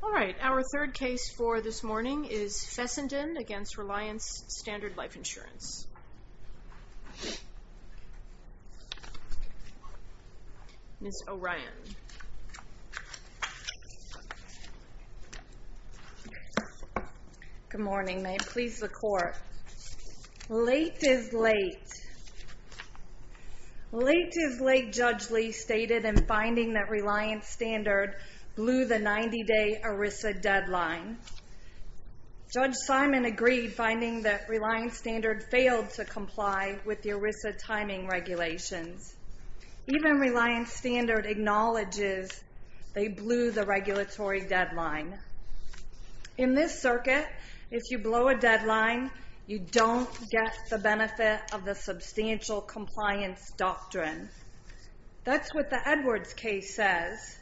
All right, our third case for this morning is Fessenden against Reliance Standard Life Good morning, may it please the court. Late is late. Late is late, Judge Lee stated in finding that Reliance Standard blew the 90-day ERISA deadline. Judge Simon agreed, finding that Reliance Standard failed to comply with the ERISA timing regulations. Even Reliance Standard acknowledges they blew the regulatory deadline. In this circuit, if you blow a deadline, you don't get the benefit of the Substantial Compliance Doctrine. That's what the Edwards case says.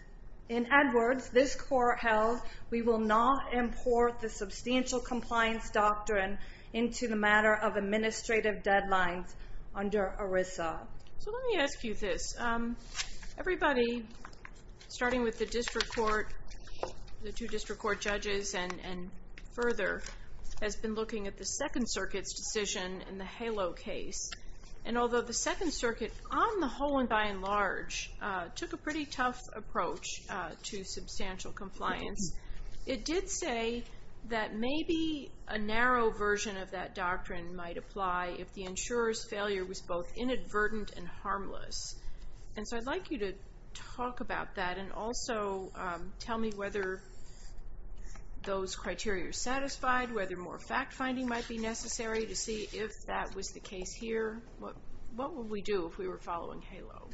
In Edwards, this court held we will not import the Substantial Compliance Doctrine into the matter of administrative deadlines under ERISA. Let me ask you this. Everybody, starting with the two district court judges and further, has been looking at the Second Circuit's decision in the HALO case. Although the Second Circuit, on the whole and by and large, took a pretty tough approach to Substantial Compliance, it did say that maybe a narrow version of that doctrine might apply if the insurer's failure was both inadvertent and harmless. I'd like you to talk about that and also tell me whether those criteria are satisfied, whether more fact-finding might be necessary to see if that was the case here. What would we do if we were following HALO?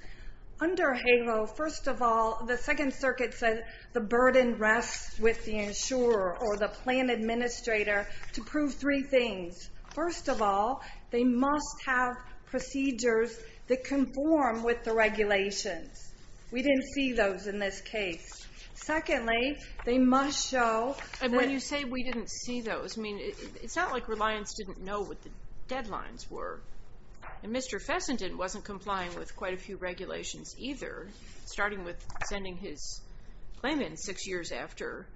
Under HALO, first of all, the Second Circuit said the burden rests with the insurer or the plan administrator to prove three things. First of all, they must have procedures that conform with the regulations. We didn't see those in this case. Secondly, they must show... When you say we didn't see those, it's not like Reliance didn't know what the deadlines were. Mr. Fessenden wasn't complying with quite a few regulations either, starting with sending his claim in six years after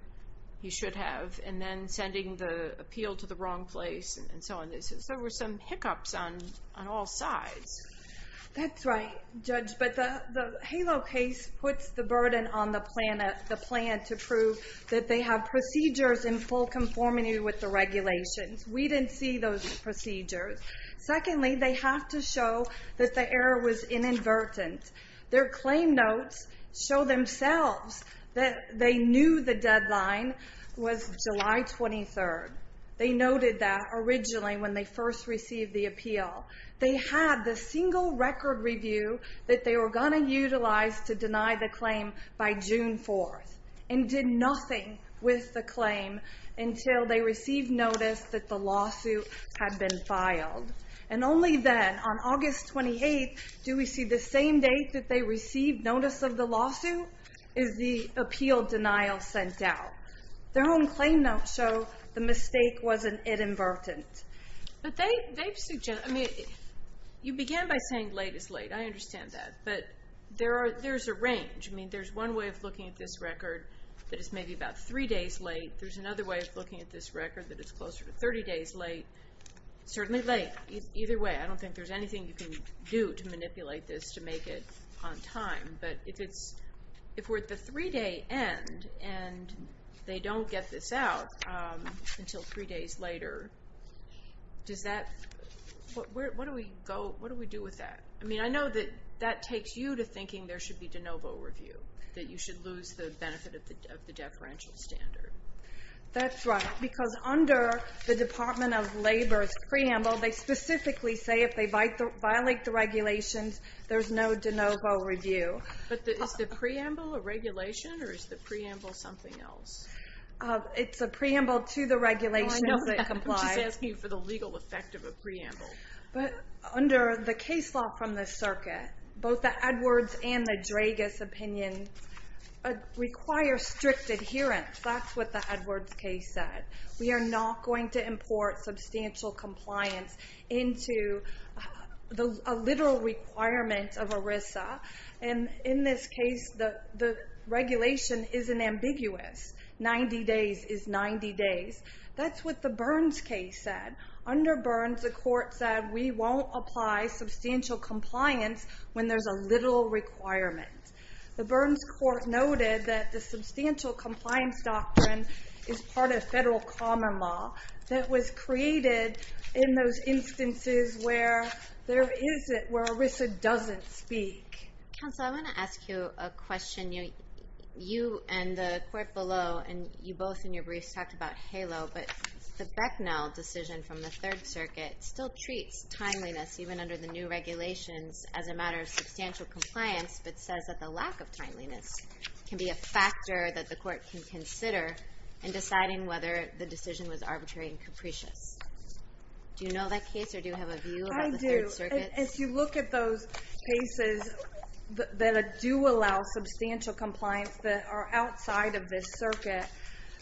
he should have and then sending the appeal to the wrong place and so on. There were some hiccups on all sides. That's right, Judge, but the HALO case puts the burden on the plan to prove that they have procedures in full conformity with the regulations. We didn't see those procedures. Secondly, they have to show that the error was inadvertent. Their claim notes show themselves that they knew the deadline was July 23rd. They noted that originally when they first received the appeal. They had the single record review that they were going to utilize to deny the claim by June 4th and did nothing with the claim until they received notice that the lawsuit had been filed. Only then, on August 28th, do we see the same date that they received notice of the lawsuit is the appeal denial sent out. Their own claim notes show the mistake wasn't inadvertent. You began by saying late is late. I understand that, but there's a range. There's one way of looking at this record that is maybe about three days late. There's another way of looking at this record that is closer to 30 days late. Certainly late. Either way, I don't think there's anything you can do to manipulate this to make it on time. If we're at the three day end and they don't get this out until three days later, what do we do with that? I know that that takes you to thinking there should be de novo review. That you should lose the benefit of the deferential standard. That's right. Because under the Department of Labor's preamble, they specifically say if they violate the regulations, there's no de novo review. Is the preamble a regulation or is the preamble something else? It's a preamble to the regulations that comply. I'm just asking for the legal effect of a preamble. Under the case law from the circuit, both the Edwards and the Dragas opinions require strict adherence. That's what the Edwards case said. We are not going to import substantial compliance into a literal requirement of ERISA. In this case, the regulation isn't ambiguous. 90 days is 90 days. That's what the Burns case said. Under Burns, the court said we won't apply substantial compliance when there's a literal requirement. The Burns court noted that the substantial compliance doctrine is part of federal common law that was created in those instances where there is it where ERISA doesn't speak. Counsel, I want to ask you a question. You and the court below and you both in your briefs talked about HALO. But the Becknell decision from the Third Circuit still treats timeliness, even under the new regulations, as a matter of substantial compliance, but says that the lack of timeliness can be a factor that the court can consider in deciding whether the decision was arbitrary and capricious. Do you know that case or do you have a view about the Third Circuit? If you look at those cases that do allow substantial compliance that are outside of this circuit,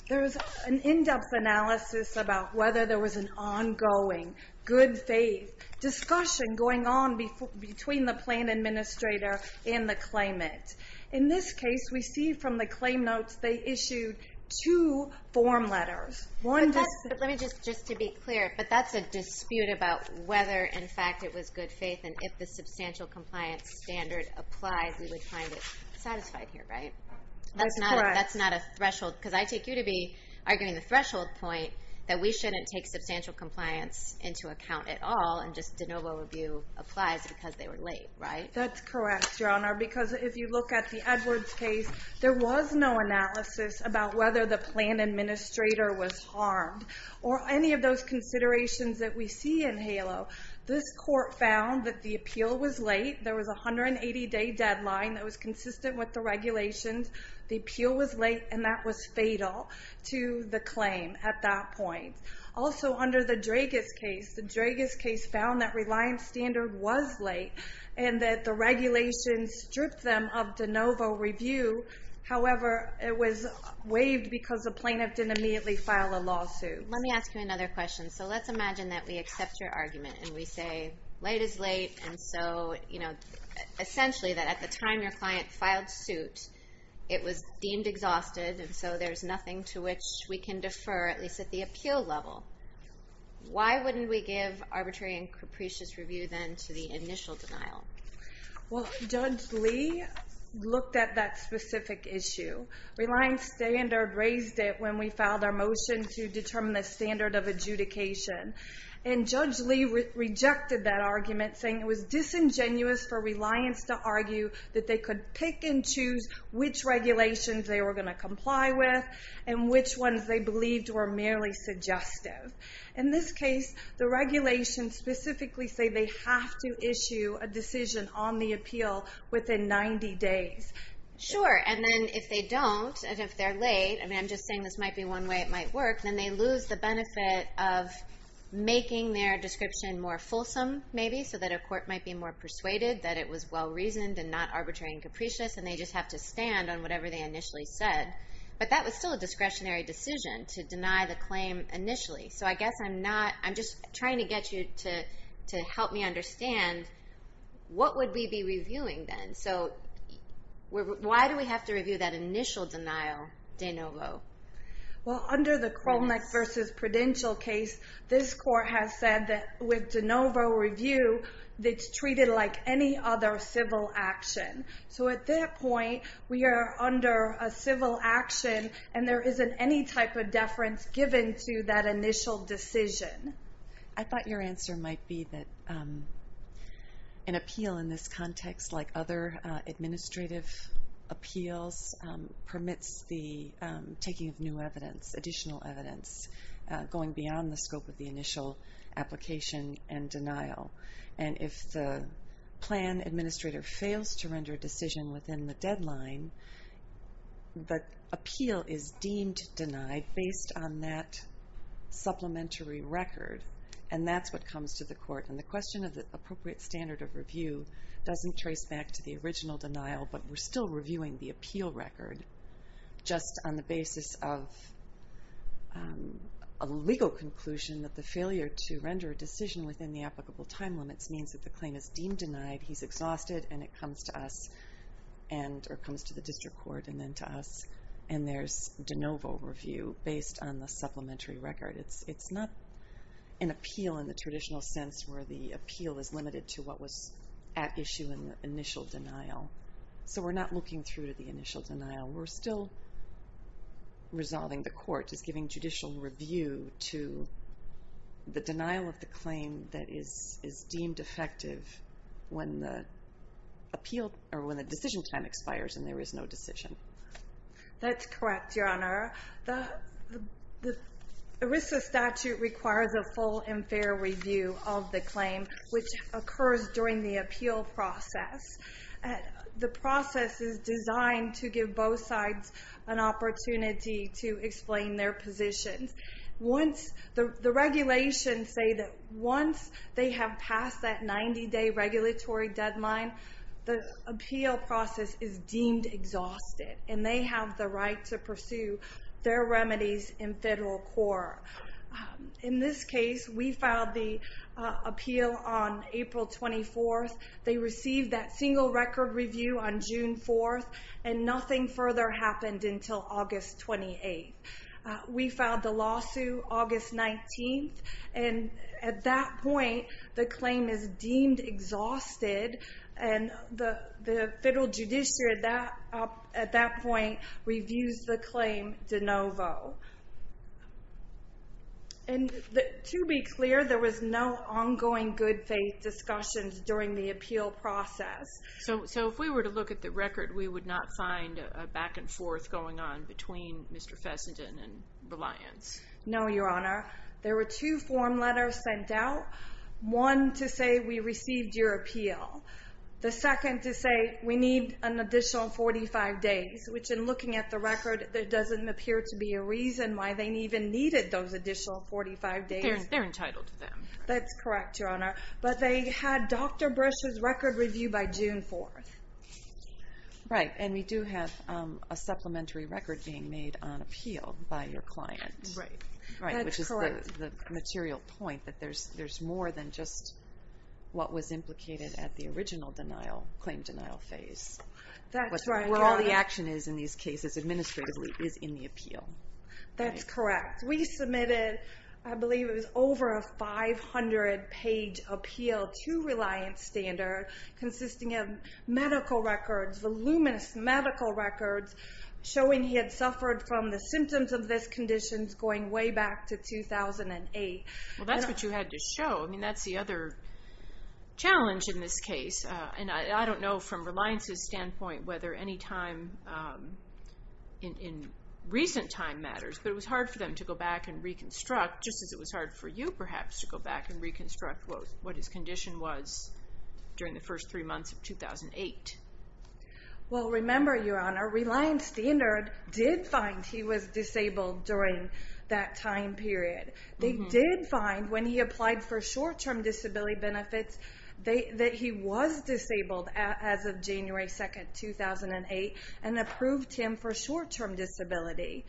there's an in-depth analysis about whether there was an ongoing, good faith discussion going on between the plan administrator and the claimant. In this case, we see from the claim notes they issued two form letters. Just to be clear, but that's a dispute about whether in fact it was good faith and if the substantial compliance standard applies, we would find it satisfied here, right? That's not a threshold because I take you to be arguing the threshold point that we shouldn't take substantial compliance into account at all and just de novo review applies because they were late, right? That's correct, Your Honor, because if you look at the Edwards case, there was no analysis about whether the plan administrator was harmed or any of those considerations that we see in HALO. This court found that the appeal was late. There was a 180-day deadline that was consistent with the regulations. The appeal was late and that was fatal to the claim at that point. Also, under the Dragas case, the Dragas case found that reliance standard was late and that the regulations stripped them of de novo review. However, it was waived because the plaintiff didn't immediately file a lawsuit. Let me ask you another question. Let's imagine that we accept your argument and we say late is late. Essentially, at the time your client filed suit, it was deemed exhausted. There's nothing to which we can defer, at least at the appeal level. Why wouldn't we give arbitrary and capricious review then to the initial denial? Judge Lee looked at that specific issue. Reliance standard raised it when we filed our motion to determine the standard of adjudication. Judge Lee rejected that argument saying it was disingenuous for reliance to argue that they could pick and choose which regulations they were going to comply with and which ones they believed were merely suggestive. In this case, the regulations specifically say they have to issue a decision on the appeal within 90 days. Sure, and then if they don't and if they're late, I'm just saying this might be one way it might work, then they lose the benefit of making their description more fulsome, maybe, so that a court might be more persuaded that it was well-reasoned and not arbitrary and capricious and they just have to stand on whatever they initially said. But that was still a discretionary decision to deny the claim initially. So I guess I'm just trying to get you to help me understand what would we be reviewing then? So why do we have to review that initial denial de novo? Well, under the Krolnick v. Prudential case, this court has said that with de novo review, it's treated like any other civil action. So at that point, we are under a civil action and there isn't any type of deference given to that initial decision. I thought your answer might be that an appeal in this context, like other administrative appeals, permits the taking of new evidence, additional evidence, going beyond the scope of the initial application and denial. And if the plan administrator fails to render a decision within the deadline, the appeal is deemed denied based on that supplementary record, and that's what comes to the court. And the question of the appropriate standard of review doesn't trace back to the original denial, but we're still reviewing the appeal record just on the basis of a legal conclusion that the failure to render a decision within the applicable time limits means that the claim is deemed denied, he's exhausted, and it comes to us, or comes to the district court and then to us, and there's de novo review based on the supplementary record. It's not an appeal in the traditional sense where the appeal is limited to what was at issue in the initial denial. So we're not looking through to the initial denial. We're still resolving the court. It's giving judicial review to the denial of the claim that is deemed effective when the decision time expires and there is no decision. That's correct, Your Honor. The ERISA statute requires a full and fair review of the claim, which occurs during the appeal process. The process is designed to give both sides an opportunity to explain their positions. The regulations say that once they have passed that 90-day regulatory deadline, the appeal process is deemed exhausted, and they have the right to pursue their remedies in federal court. In this case, we filed the appeal on April 24th. They received that single record review on June 4th, and nothing further happened until August 28th. We filed the lawsuit August 19th, and at that point the claim is deemed exhausted, and the federal judiciary at that point reviews the claim de novo. To be clear, there was no ongoing good faith discussions during the appeal process. So if we were to look at the record, we would not find a back and forth going on between Mr. Fessenden and Reliance? No, Your Honor. There were two form letters sent out, one to say we received your appeal, the second to say we need an additional 45 days, which in looking at the record there doesn't appear to be a reason why they even needed those additional 45 days. They're entitled to them. That's correct, Your Honor. But they had Dr. Brush's record review by June 4th. Right, and we do have a supplementary record being made on appeal by your client. Right, that's correct. The material point that there's more than just what was implicated at the original claim denial phase. That's right, Your Honor. Where all the action is in these cases administratively is in the appeal. That's correct. We submitted, I believe it was over a 500-page appeal to Reliance Standard consisting of medical records, voluminous medical records, showing he had suffered from the symptoms of this condition going way back to 2008. Well, that's what you had to show. I mean, that's the other challenge in this case. And I don't know from Reliance's standpoint whether any time in recent time matters, but it was hard for them to go back and reconstruct, just as it was hard for you perhaps to go back and reconstruct what his condition was during the first three months of 2008. Well, remember, Your Honor, Reliance Standard did find he was disabled during that time period. They did find when he applied for short-term disability benefits that he was disabled as of January 2nd, 2008, and approved him for short-term disability.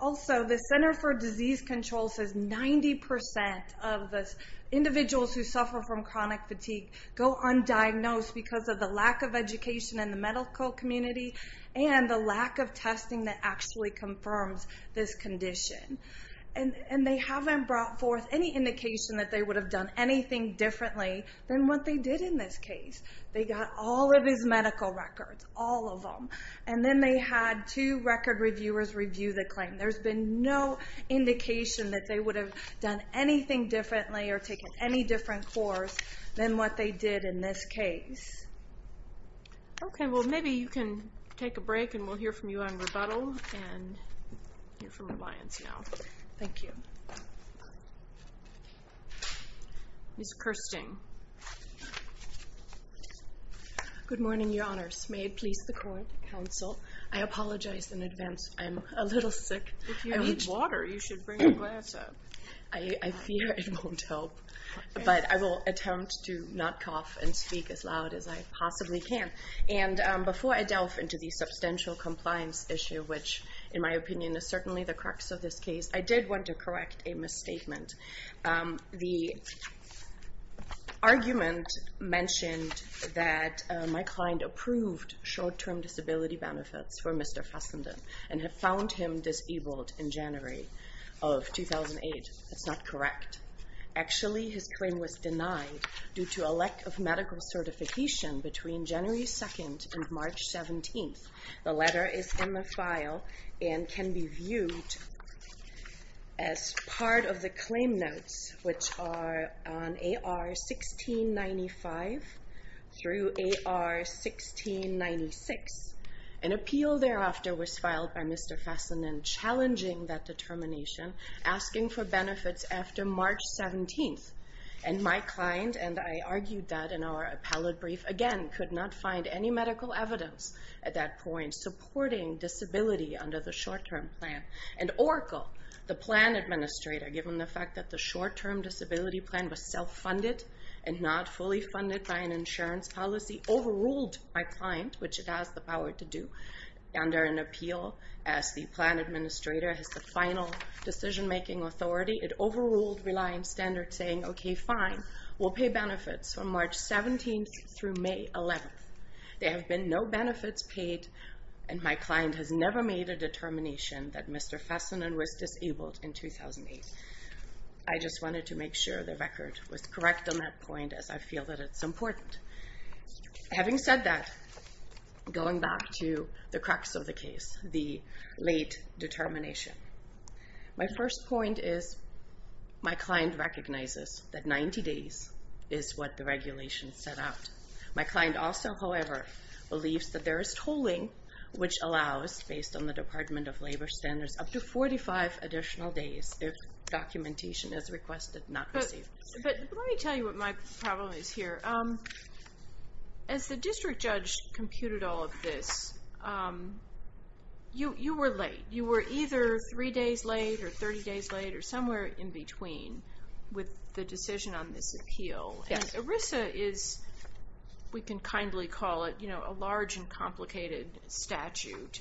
Also, the Center for Disease Control says 90% of individuals who suffer from chronic fatigue go undiagnosed because of the lack of education in the medical community and the lack of testing that actually confirms this condition. And they haven't brought forth any indication that they would have done anything differently than what they did in this case. They got all of his medical records, all of them. And then they had two record reviewers review the claim. There's been no indication that they would have done anything differently or taken any different course than what they did in this case. Okay. Well, maybe you can take a break, and we'll hear from you on rebuttal and hear from Reliance now. Thank you. Ms. Kirsting. Good morning, Your Honors. May it please the court, counsel, I apologize in advance. I'm a little sick. If you need water, you should bring a glass up. I fear it won't help, but I will attempt to not cough and speak as loud as I possibly can. And before I delve into the substantial compliance issue, which in my opinion is certainly the crux of this case, I did want to correct a misstatement. The argument mentioned that my client approved short-term disability benefits for Mr. Fassenden and had found him disabled in January of 2008. That's not correct. Actually, his claim was denied due to a lack of medical certification between January 2nd and March 17th. The letter is in the file and can be viewed as part of the claim notes, which are on AR 1695 through AR 1696. An appeal thereafter was filed by Mr. Fassenden challenging that determination, asking for benefits after March 17th. And my client and I argued that in our appellate brief, again, could not find any medical evidence at that point supporting disability under the short-term plan. And Oracle, the plan administrator, given the fact that the short-term disability plan was self-funded and not fully funded by an insurance policy, overruled my client, which it has the power to do, under an appeal as the plan administrator has the final decision-making authority. It overruled reliance standards saying, okay, fine, we'll pay benefits from March 17th through May 11th. There have been no benefits paid, and my client has never made a determination that Mr. Fassenden was disabled in 2008. I just wanted to make sure the record was correct on that point, as I feel that it's important. Having said that, going back to the crux of the case, the late determination. My first point is my client recognizes that 90 days is what the regulation set out. My client also, however, believes that there is tolling which allows, based on the Department of Labor standards, up to 45 additional days if documentation is requested, not received. But let me tell you what my problem is here. As the district judge computed all of this, you were late. You were either three days late or 30 days late or somewhere in between with the decision on this appeal. And ERISA is, we can kindly call it, a large and complicated statute.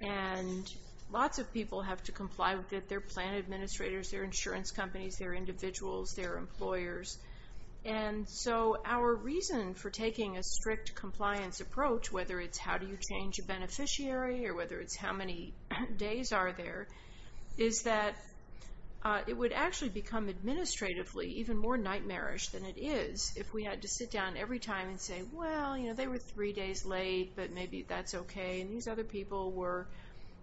And lots of people have to comply with it. They're plan administrators, they're insurance companies, they're individuals, they're employers. And so our reason for taking a strict compliance approach, whether it's how do you change a beneficiary or whether it's how many days are there, is that it would actually become administratively even more nightmarish than it is if we had to sit down every time and say, well, you know, they were three days late, but maybe that's okay. And these other people were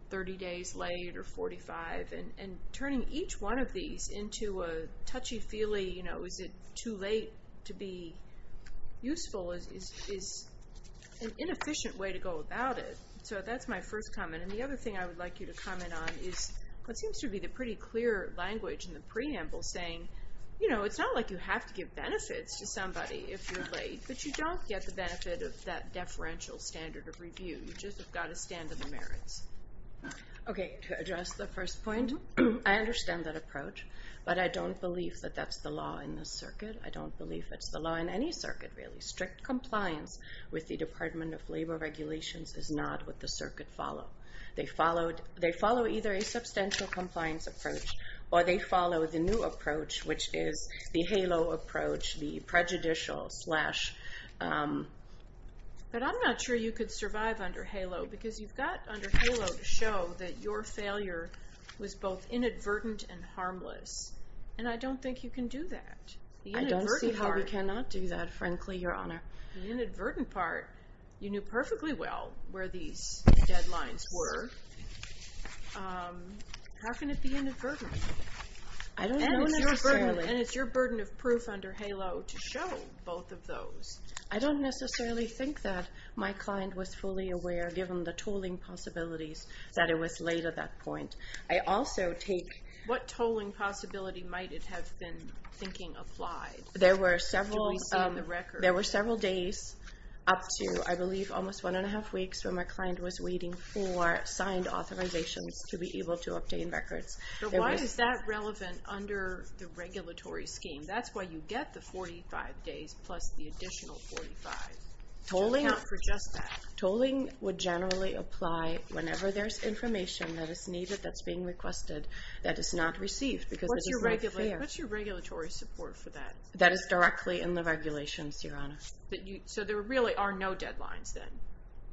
30 days late or 45. And turning each one of these into a touchy-feely, you know, is it too late to be useful is an inefficient way to go about it. So that's my first comment. And the other thing I would like you to comment on is what seems to be the pretty clear language in the preamble saying, you know, it's not like you have to give benefits to somebody if you're late, but you don't get the benefit of that deferential standard of review. You just have got to stand to the merits. Okay. To address the first point, I understand that approach, but I don't believe that that's the law in this circuit. I don't believe it's the law in any circuit, really. with the Department of Labor regulations is not what the circuit follow. They follow either a substantial compliance approach, or they follow the new approach, which is the HALO approach, the prejudicial slash. But I'm not sure you could survive under HALO, because you've got under HALO to show that your failure was both inadvertent and harmless. And I don't think you can do that. I don't see how you cannot do that, frankly, Your Honor. The inadvertent part, you knew perfectly well where these deadlines were. How can it be inadvertent? I don't know necessarily. And it's your burden of proof under HALO to show both of those. I don't necessarily think that. My client was fully aware, given the tolling possibilities, that it was late at that point. What tolling possibility might it have been thinking applied? There were several days up to, I believe, almost one and a half weeks, when my client was waiting for signed authorizations to be able to obtain records. But why is that relevant under the regulatory scheme? That's why you get the 45 days plus the additional 45, to account for just that. Tolling would generally apply whenever there's information that is needed, that's being requested, that is not received. What's your regulatory support for that? That is directly in the regulations, Your Honor. So there really are no deadlines then?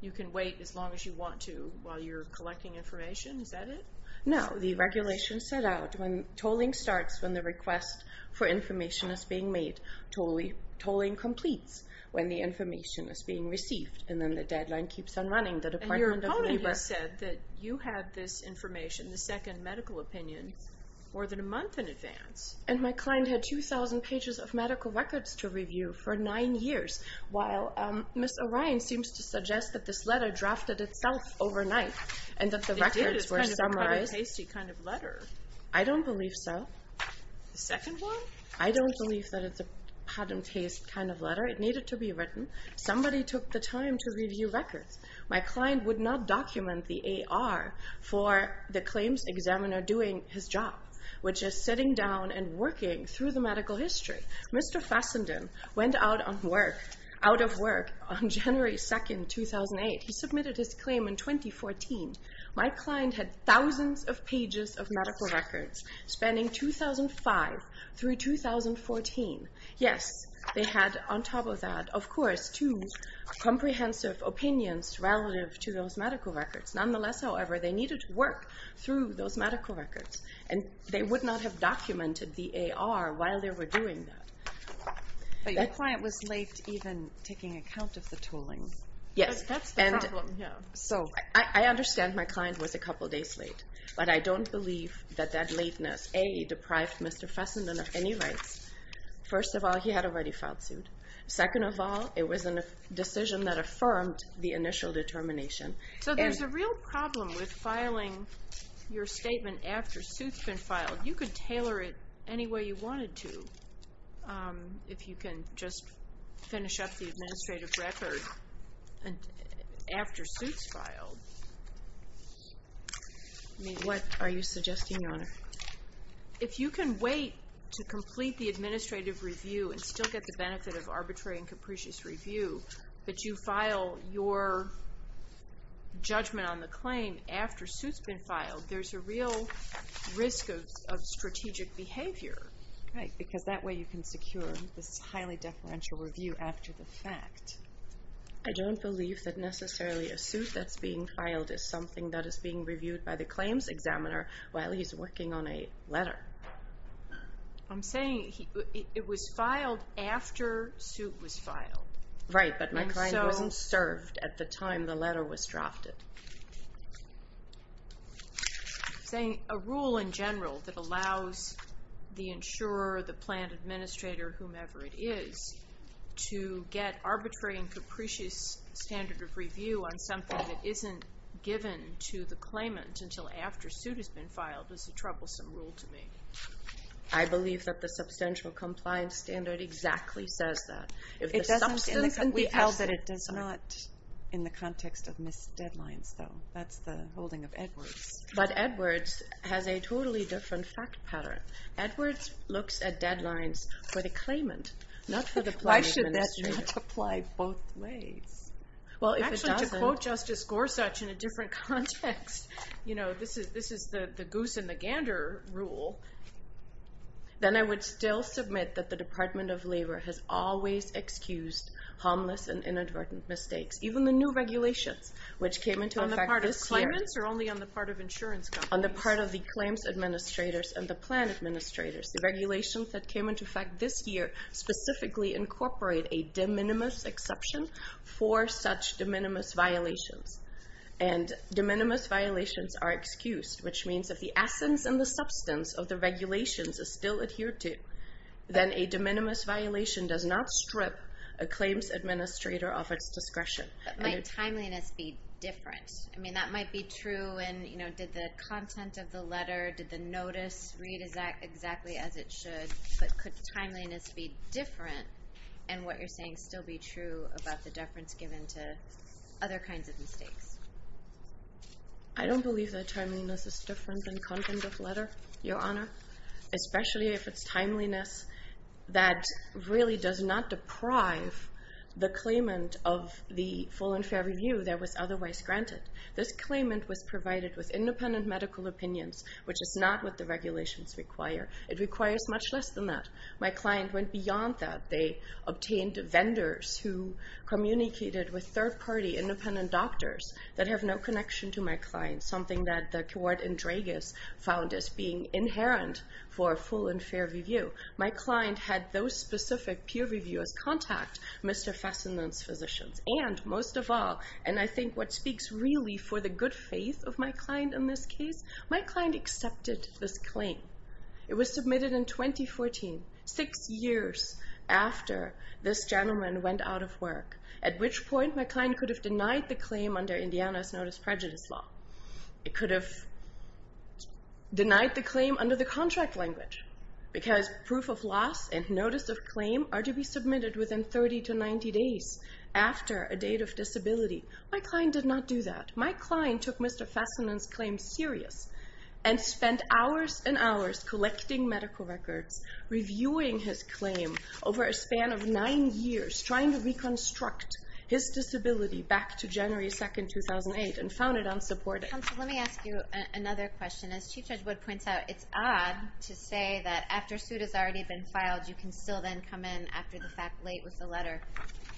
You can wait as long as you want to while you're collecting information? Is that it? No, the regulation set out when tolling starts, when the request for information is being made, when tolling completes, when the information is being received. And then the deadline keeps on running. And your opponent has said that you had this information, the second medical opinion, more than a month in advance. And my client had 2,000 pages of medical records to review for nine years, while Ms. O'Ryan seems to suggest that this letter drafted itself overnight, and that the records were summarized. It did. It's kind of a kind of pasty kind of letter. I don't believe so. The second one? I don't believe that it's a patent-based kind of letter. It needed to be written. Somebody took the time to review records. My client would not document the AR for the claims examiner doing his job, which is sitting down and working through the medical history. Mr. Fassenden went out of work on January 2, 2008. He submitted his claim in 2014. My client had thousands of pages of medical records spanning 2005 through 2014. Yes, they had on top of that, of course, two comprehensive opinions relative to those medical records. Nonetheless, however, they needed to work through those medical records. And they would not have documented the AR while they were doing that. But your client was late even taking account of the tolling. Yes. That's the problem. I understand my client was a couple days late, but I don't believe that that lateness, A, deprived Mr. Fassenden of any rights. First of all, he had already filed suit. Second of all, it was a decision that affirmed the initial determination. So there's a real problem with filing your statement after suit's been filed. You could tailor it any way you wanted to. If you can just finish up the administrative record after suit's filed. What are you suggesting, Your Honor? If you can wait to complete the administrative review and still get the benefit of arbitrary and capricious review, but you file your judgment on the claim after suit's been filed, there's a real risk of strategic behavior. Right. Because that way you can secure this highly deferential review after the fact. I don't believe that necessarily a suit that's being filed is something that is being reviewed by the claims examiner while he's working on a letter. I'm saying it was filed after suit was filed. Right. But my client wasn't served at the time the letter was drafted. I'm saying a rule in general that allows the insurer, the plan administrator, whomever it is, to get arbitrary and capricious standard of review on something that isn't given to the claimant until after suit has been filed is a troublesome rule to me. I believe that the substantial compliance standard exactly says that. It does not in the context of missed deadlines, though. That's the holding of Edwards. But Edwards has a totally different fact pattern. Edwards looks at deadlines for the claimant, not for the plan administrator. Why should that not apply both ways? Actually, to quote Justice Gorsuch in a different context, this is the goose and the gander rule, then I would still submit that the Department of Labor has always excused harmless and inadvertent mistakes, even the new regulations, which came into effect this year. On the part of claimants or only on the part of insurance companies? On the part of the claims administrators and the plan administrators. The regulations that came into effect this year specifically incorporate a de minimis exception for such de minimis violations, and de minimis violations are excused, which means that if the essence and the substance of the regulations is still adhered to, then a de minimis violation does not strip a claims administrator of its discretion. But might timeliness be different? I mean, that might be true, and did the content of the letter, did the notice read exactly as it should? But could timeliness be different, and what you're saying still be true about the deference given to other kinds of mistakes? I don't believe that timeliness is different than content of letter, Your Honor, especially if it's timeliness that really does not deprive the claimant of the full and fair review that was otherwise granted. This claimant was provided with independent medical opinions, which is not what the regulations require. It requires much less than that. My client went beyond that. They obtained vendors who communicated with third-party independent doctors that have no connection to my client, something that the court in Dragas found as being inherent for a full and fair review. My client had those specific peer reviewers contact Mr. Fessenden's physicians. And most of all, and I think what speaks really for the good faith of my client in this case, my client accepted this claim. It was submitted in 2014, six years after this gentleman went out of work, at which point my client could have denied the claim under Indiana's Notice of Prejudice Law. It could have denied the claim under the contract language, because proof of loss and notice of claim are to be submitted within 30 to 90 days after a date of disability. My client did not do that. My client took Mr. Fessenden's claim serious and spent hours and hours collecting medical records, reviewing his claim over a span of nine years, trying to reconstruct his disability back to January 2, 2008, and found it unsupportive. Counsel, let me ask you another question. As Chief Judge Wood points out, it's odd to say that after suit has already been filed, you can still then come in after the fact late with the letter.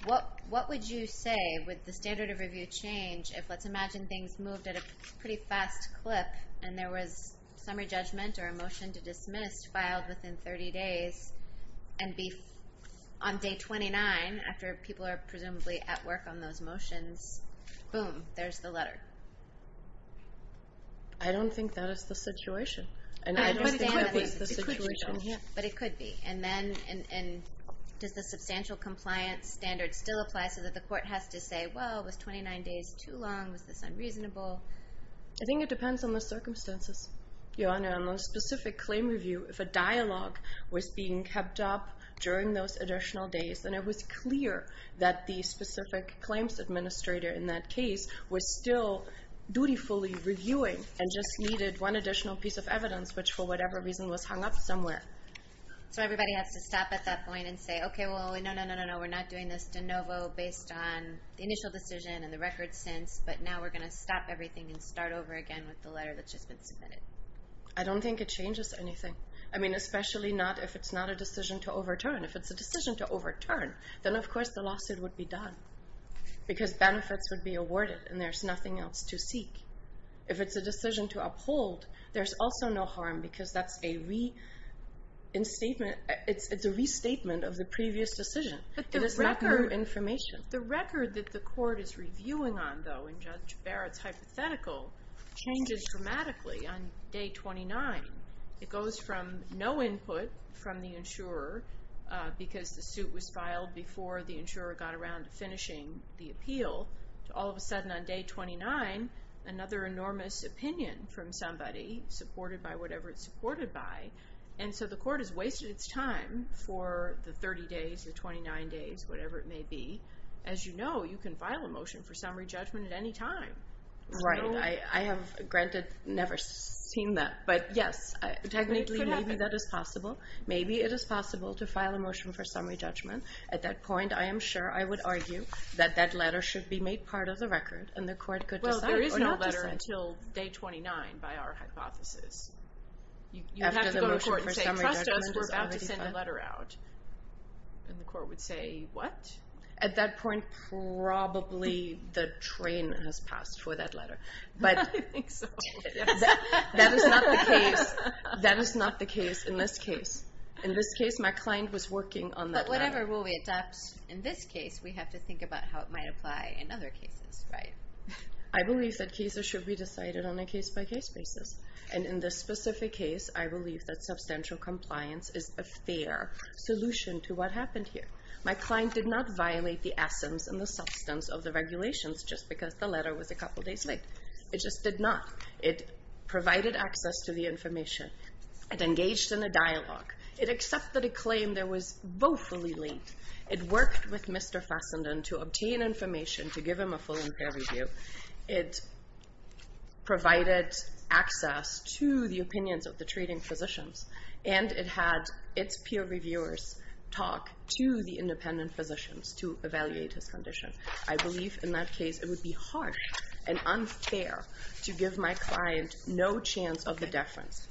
What would you say would the standard of review change if, let's imagine, things moved at a pretty fast clip and there was summary judgment or a motion to dismiss filed within 30 days and on day 29, after people are presumably at work on those motions, boom, there's the letter? I don't think that is the situation. But it could be. Does the substantial compliance standard still apply so that the court has to say, well, was 29 days too long? Was this unreasonable? I think it depends on the circumstances. Your Honor, on a specific claim review, if a dialogue was being kept up during those additional days, then it was clear that the specific claims administrator in that case was still dutifully reviewing and just needed one additional piece of evidence, which for whatever reason was hung up somewhere. So everybody has to stop at that point and say, okay, well, no, no, no, we're not doing this de novo based on the initial decision and the record since, but now we're going to stop everything and start over again with the letter that's just been submitted. I don't think it changes anything, especially if it's not a decision to overturn. If it's a decision to overturn, then of course the lawsuit would be done because benefits would be awarded and there's nothing else to seek. If it's a decision to uphold, there's also no harm because it's a restatement of the previous decision. It is not new information. The record that the court is reviewing on, though, in Judge Barrett's hypothetical changes dramatically on day 29. It goes from no input from the insurer because the suit was filed before the insurer got around to finishing the appeal to all of a sudden on day 29 another enormous opinion from somebody supported by whatever it's supported by. And so the court has wasted its time for the 30 days, the 29 days, whatever it may be. As you know, you can file a motion for summary judgment at any time. Right. I have, granted, never seen that. But yes, technically maybe that is possible. Maybe it is possible to file a motion for summary judgment. At that point, I am sure I would argue that that letter should be made part of the record and the court could decide or not decide. Until day 29, by our hypothesis. You would have to go to court and say, trust us, we're about to send a letter out. And the court would say, what? At that point, probably the train has passed for that letter. I think so. That is not the case in this case. In this case, my client was working on that letter. But whatever rule we adopt in this case, we have to think about how it might apply in other cases, right? I believe that cases should be decided on a case-by-case basis. And in this specific case, I believe that substantial compliance is a fair solution to what happened here. My client did not violate the essence and the substance of the regulations just because the letter was a couple days late. It just did not. It provided access to the information. It engaged in a dialogue. It accepted a claim that was woefully late. It worked with Mr. Fassenden to obtain information to give him a full and fair review. It provided access to the opinions of the treating physicians. And it had its peer reviewers talk to the independent physicians to evaluate his condition. I believe in that case it would be harsh and unfair to give my client no chance of the deference.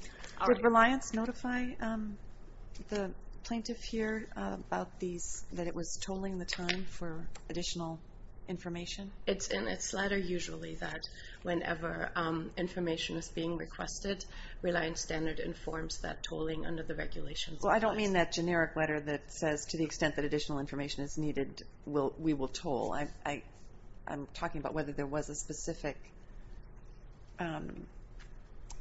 Did Reliance notify the plaintiff here about these, or was tolling the time for additional information? It's in its letter usually that whenever information is being requested, Reliance Standard informs that tolling under the regulations. Well, I don't mean that generic letter that says to the extent that additional information is needed, we will toll. I'm talking about whether there was a specific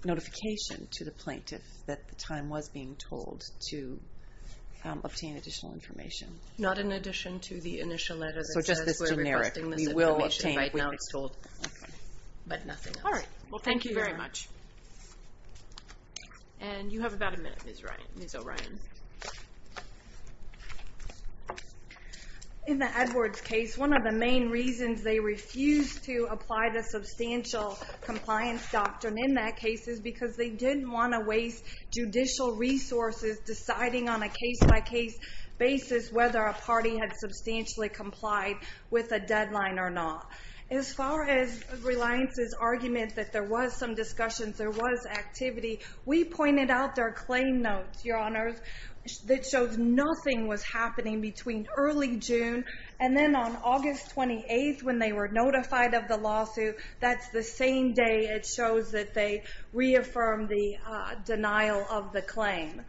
notification to the plaintiff that the time was being tolled to obtain additional information. Not in addition to the initial letter that says... So just this generic. ...we're requesting this information right now to be tolled. Okay. But nothing else. All right. Well, thank you very much. And you have about a minute, Ms. O'Ryan. In the Edwards case, one of the main reasons they refused to apply the substantial compliance doctrine in that case is because they didn't want to waste judicial resources deciding on a case-by-case basis whether a party had substantially complied with a deadline or not. As far as Reliance's argument that there was some discussions, there was activity, we pointed out their claim notes, Your Honors, that shows nothing was happening between early June and then on August 28th when they were notified of the lawsuit. That's the same day it shows that they reaffirmed the denial of the claim.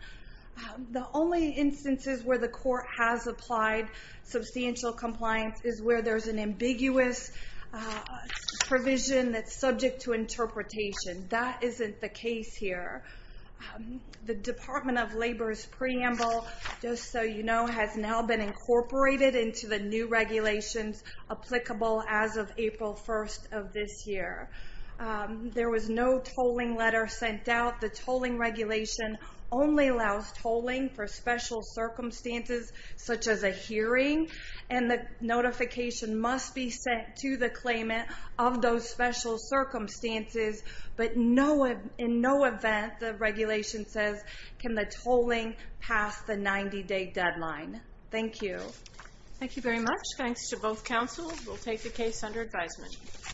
The only instances where the court has applied substantial compliance is where there's an ambiguous provision that's subject to interpretation. That isn't the case here. The Department of Labor's preamble, just so you know, has now been incorporated into the new regulations applicable as of April 1st of this year. There was no tolling letter sent out. The tolling regulation only allows tolling for special circumstances such as a hearing, and the notification must be sent to the claimant of those special circumstances, but in no event, the regulation says, can the tolling pass the 90-day deadline. Thank you. Thank you very much. Thanks to both counsels. We'll take the case under advisement.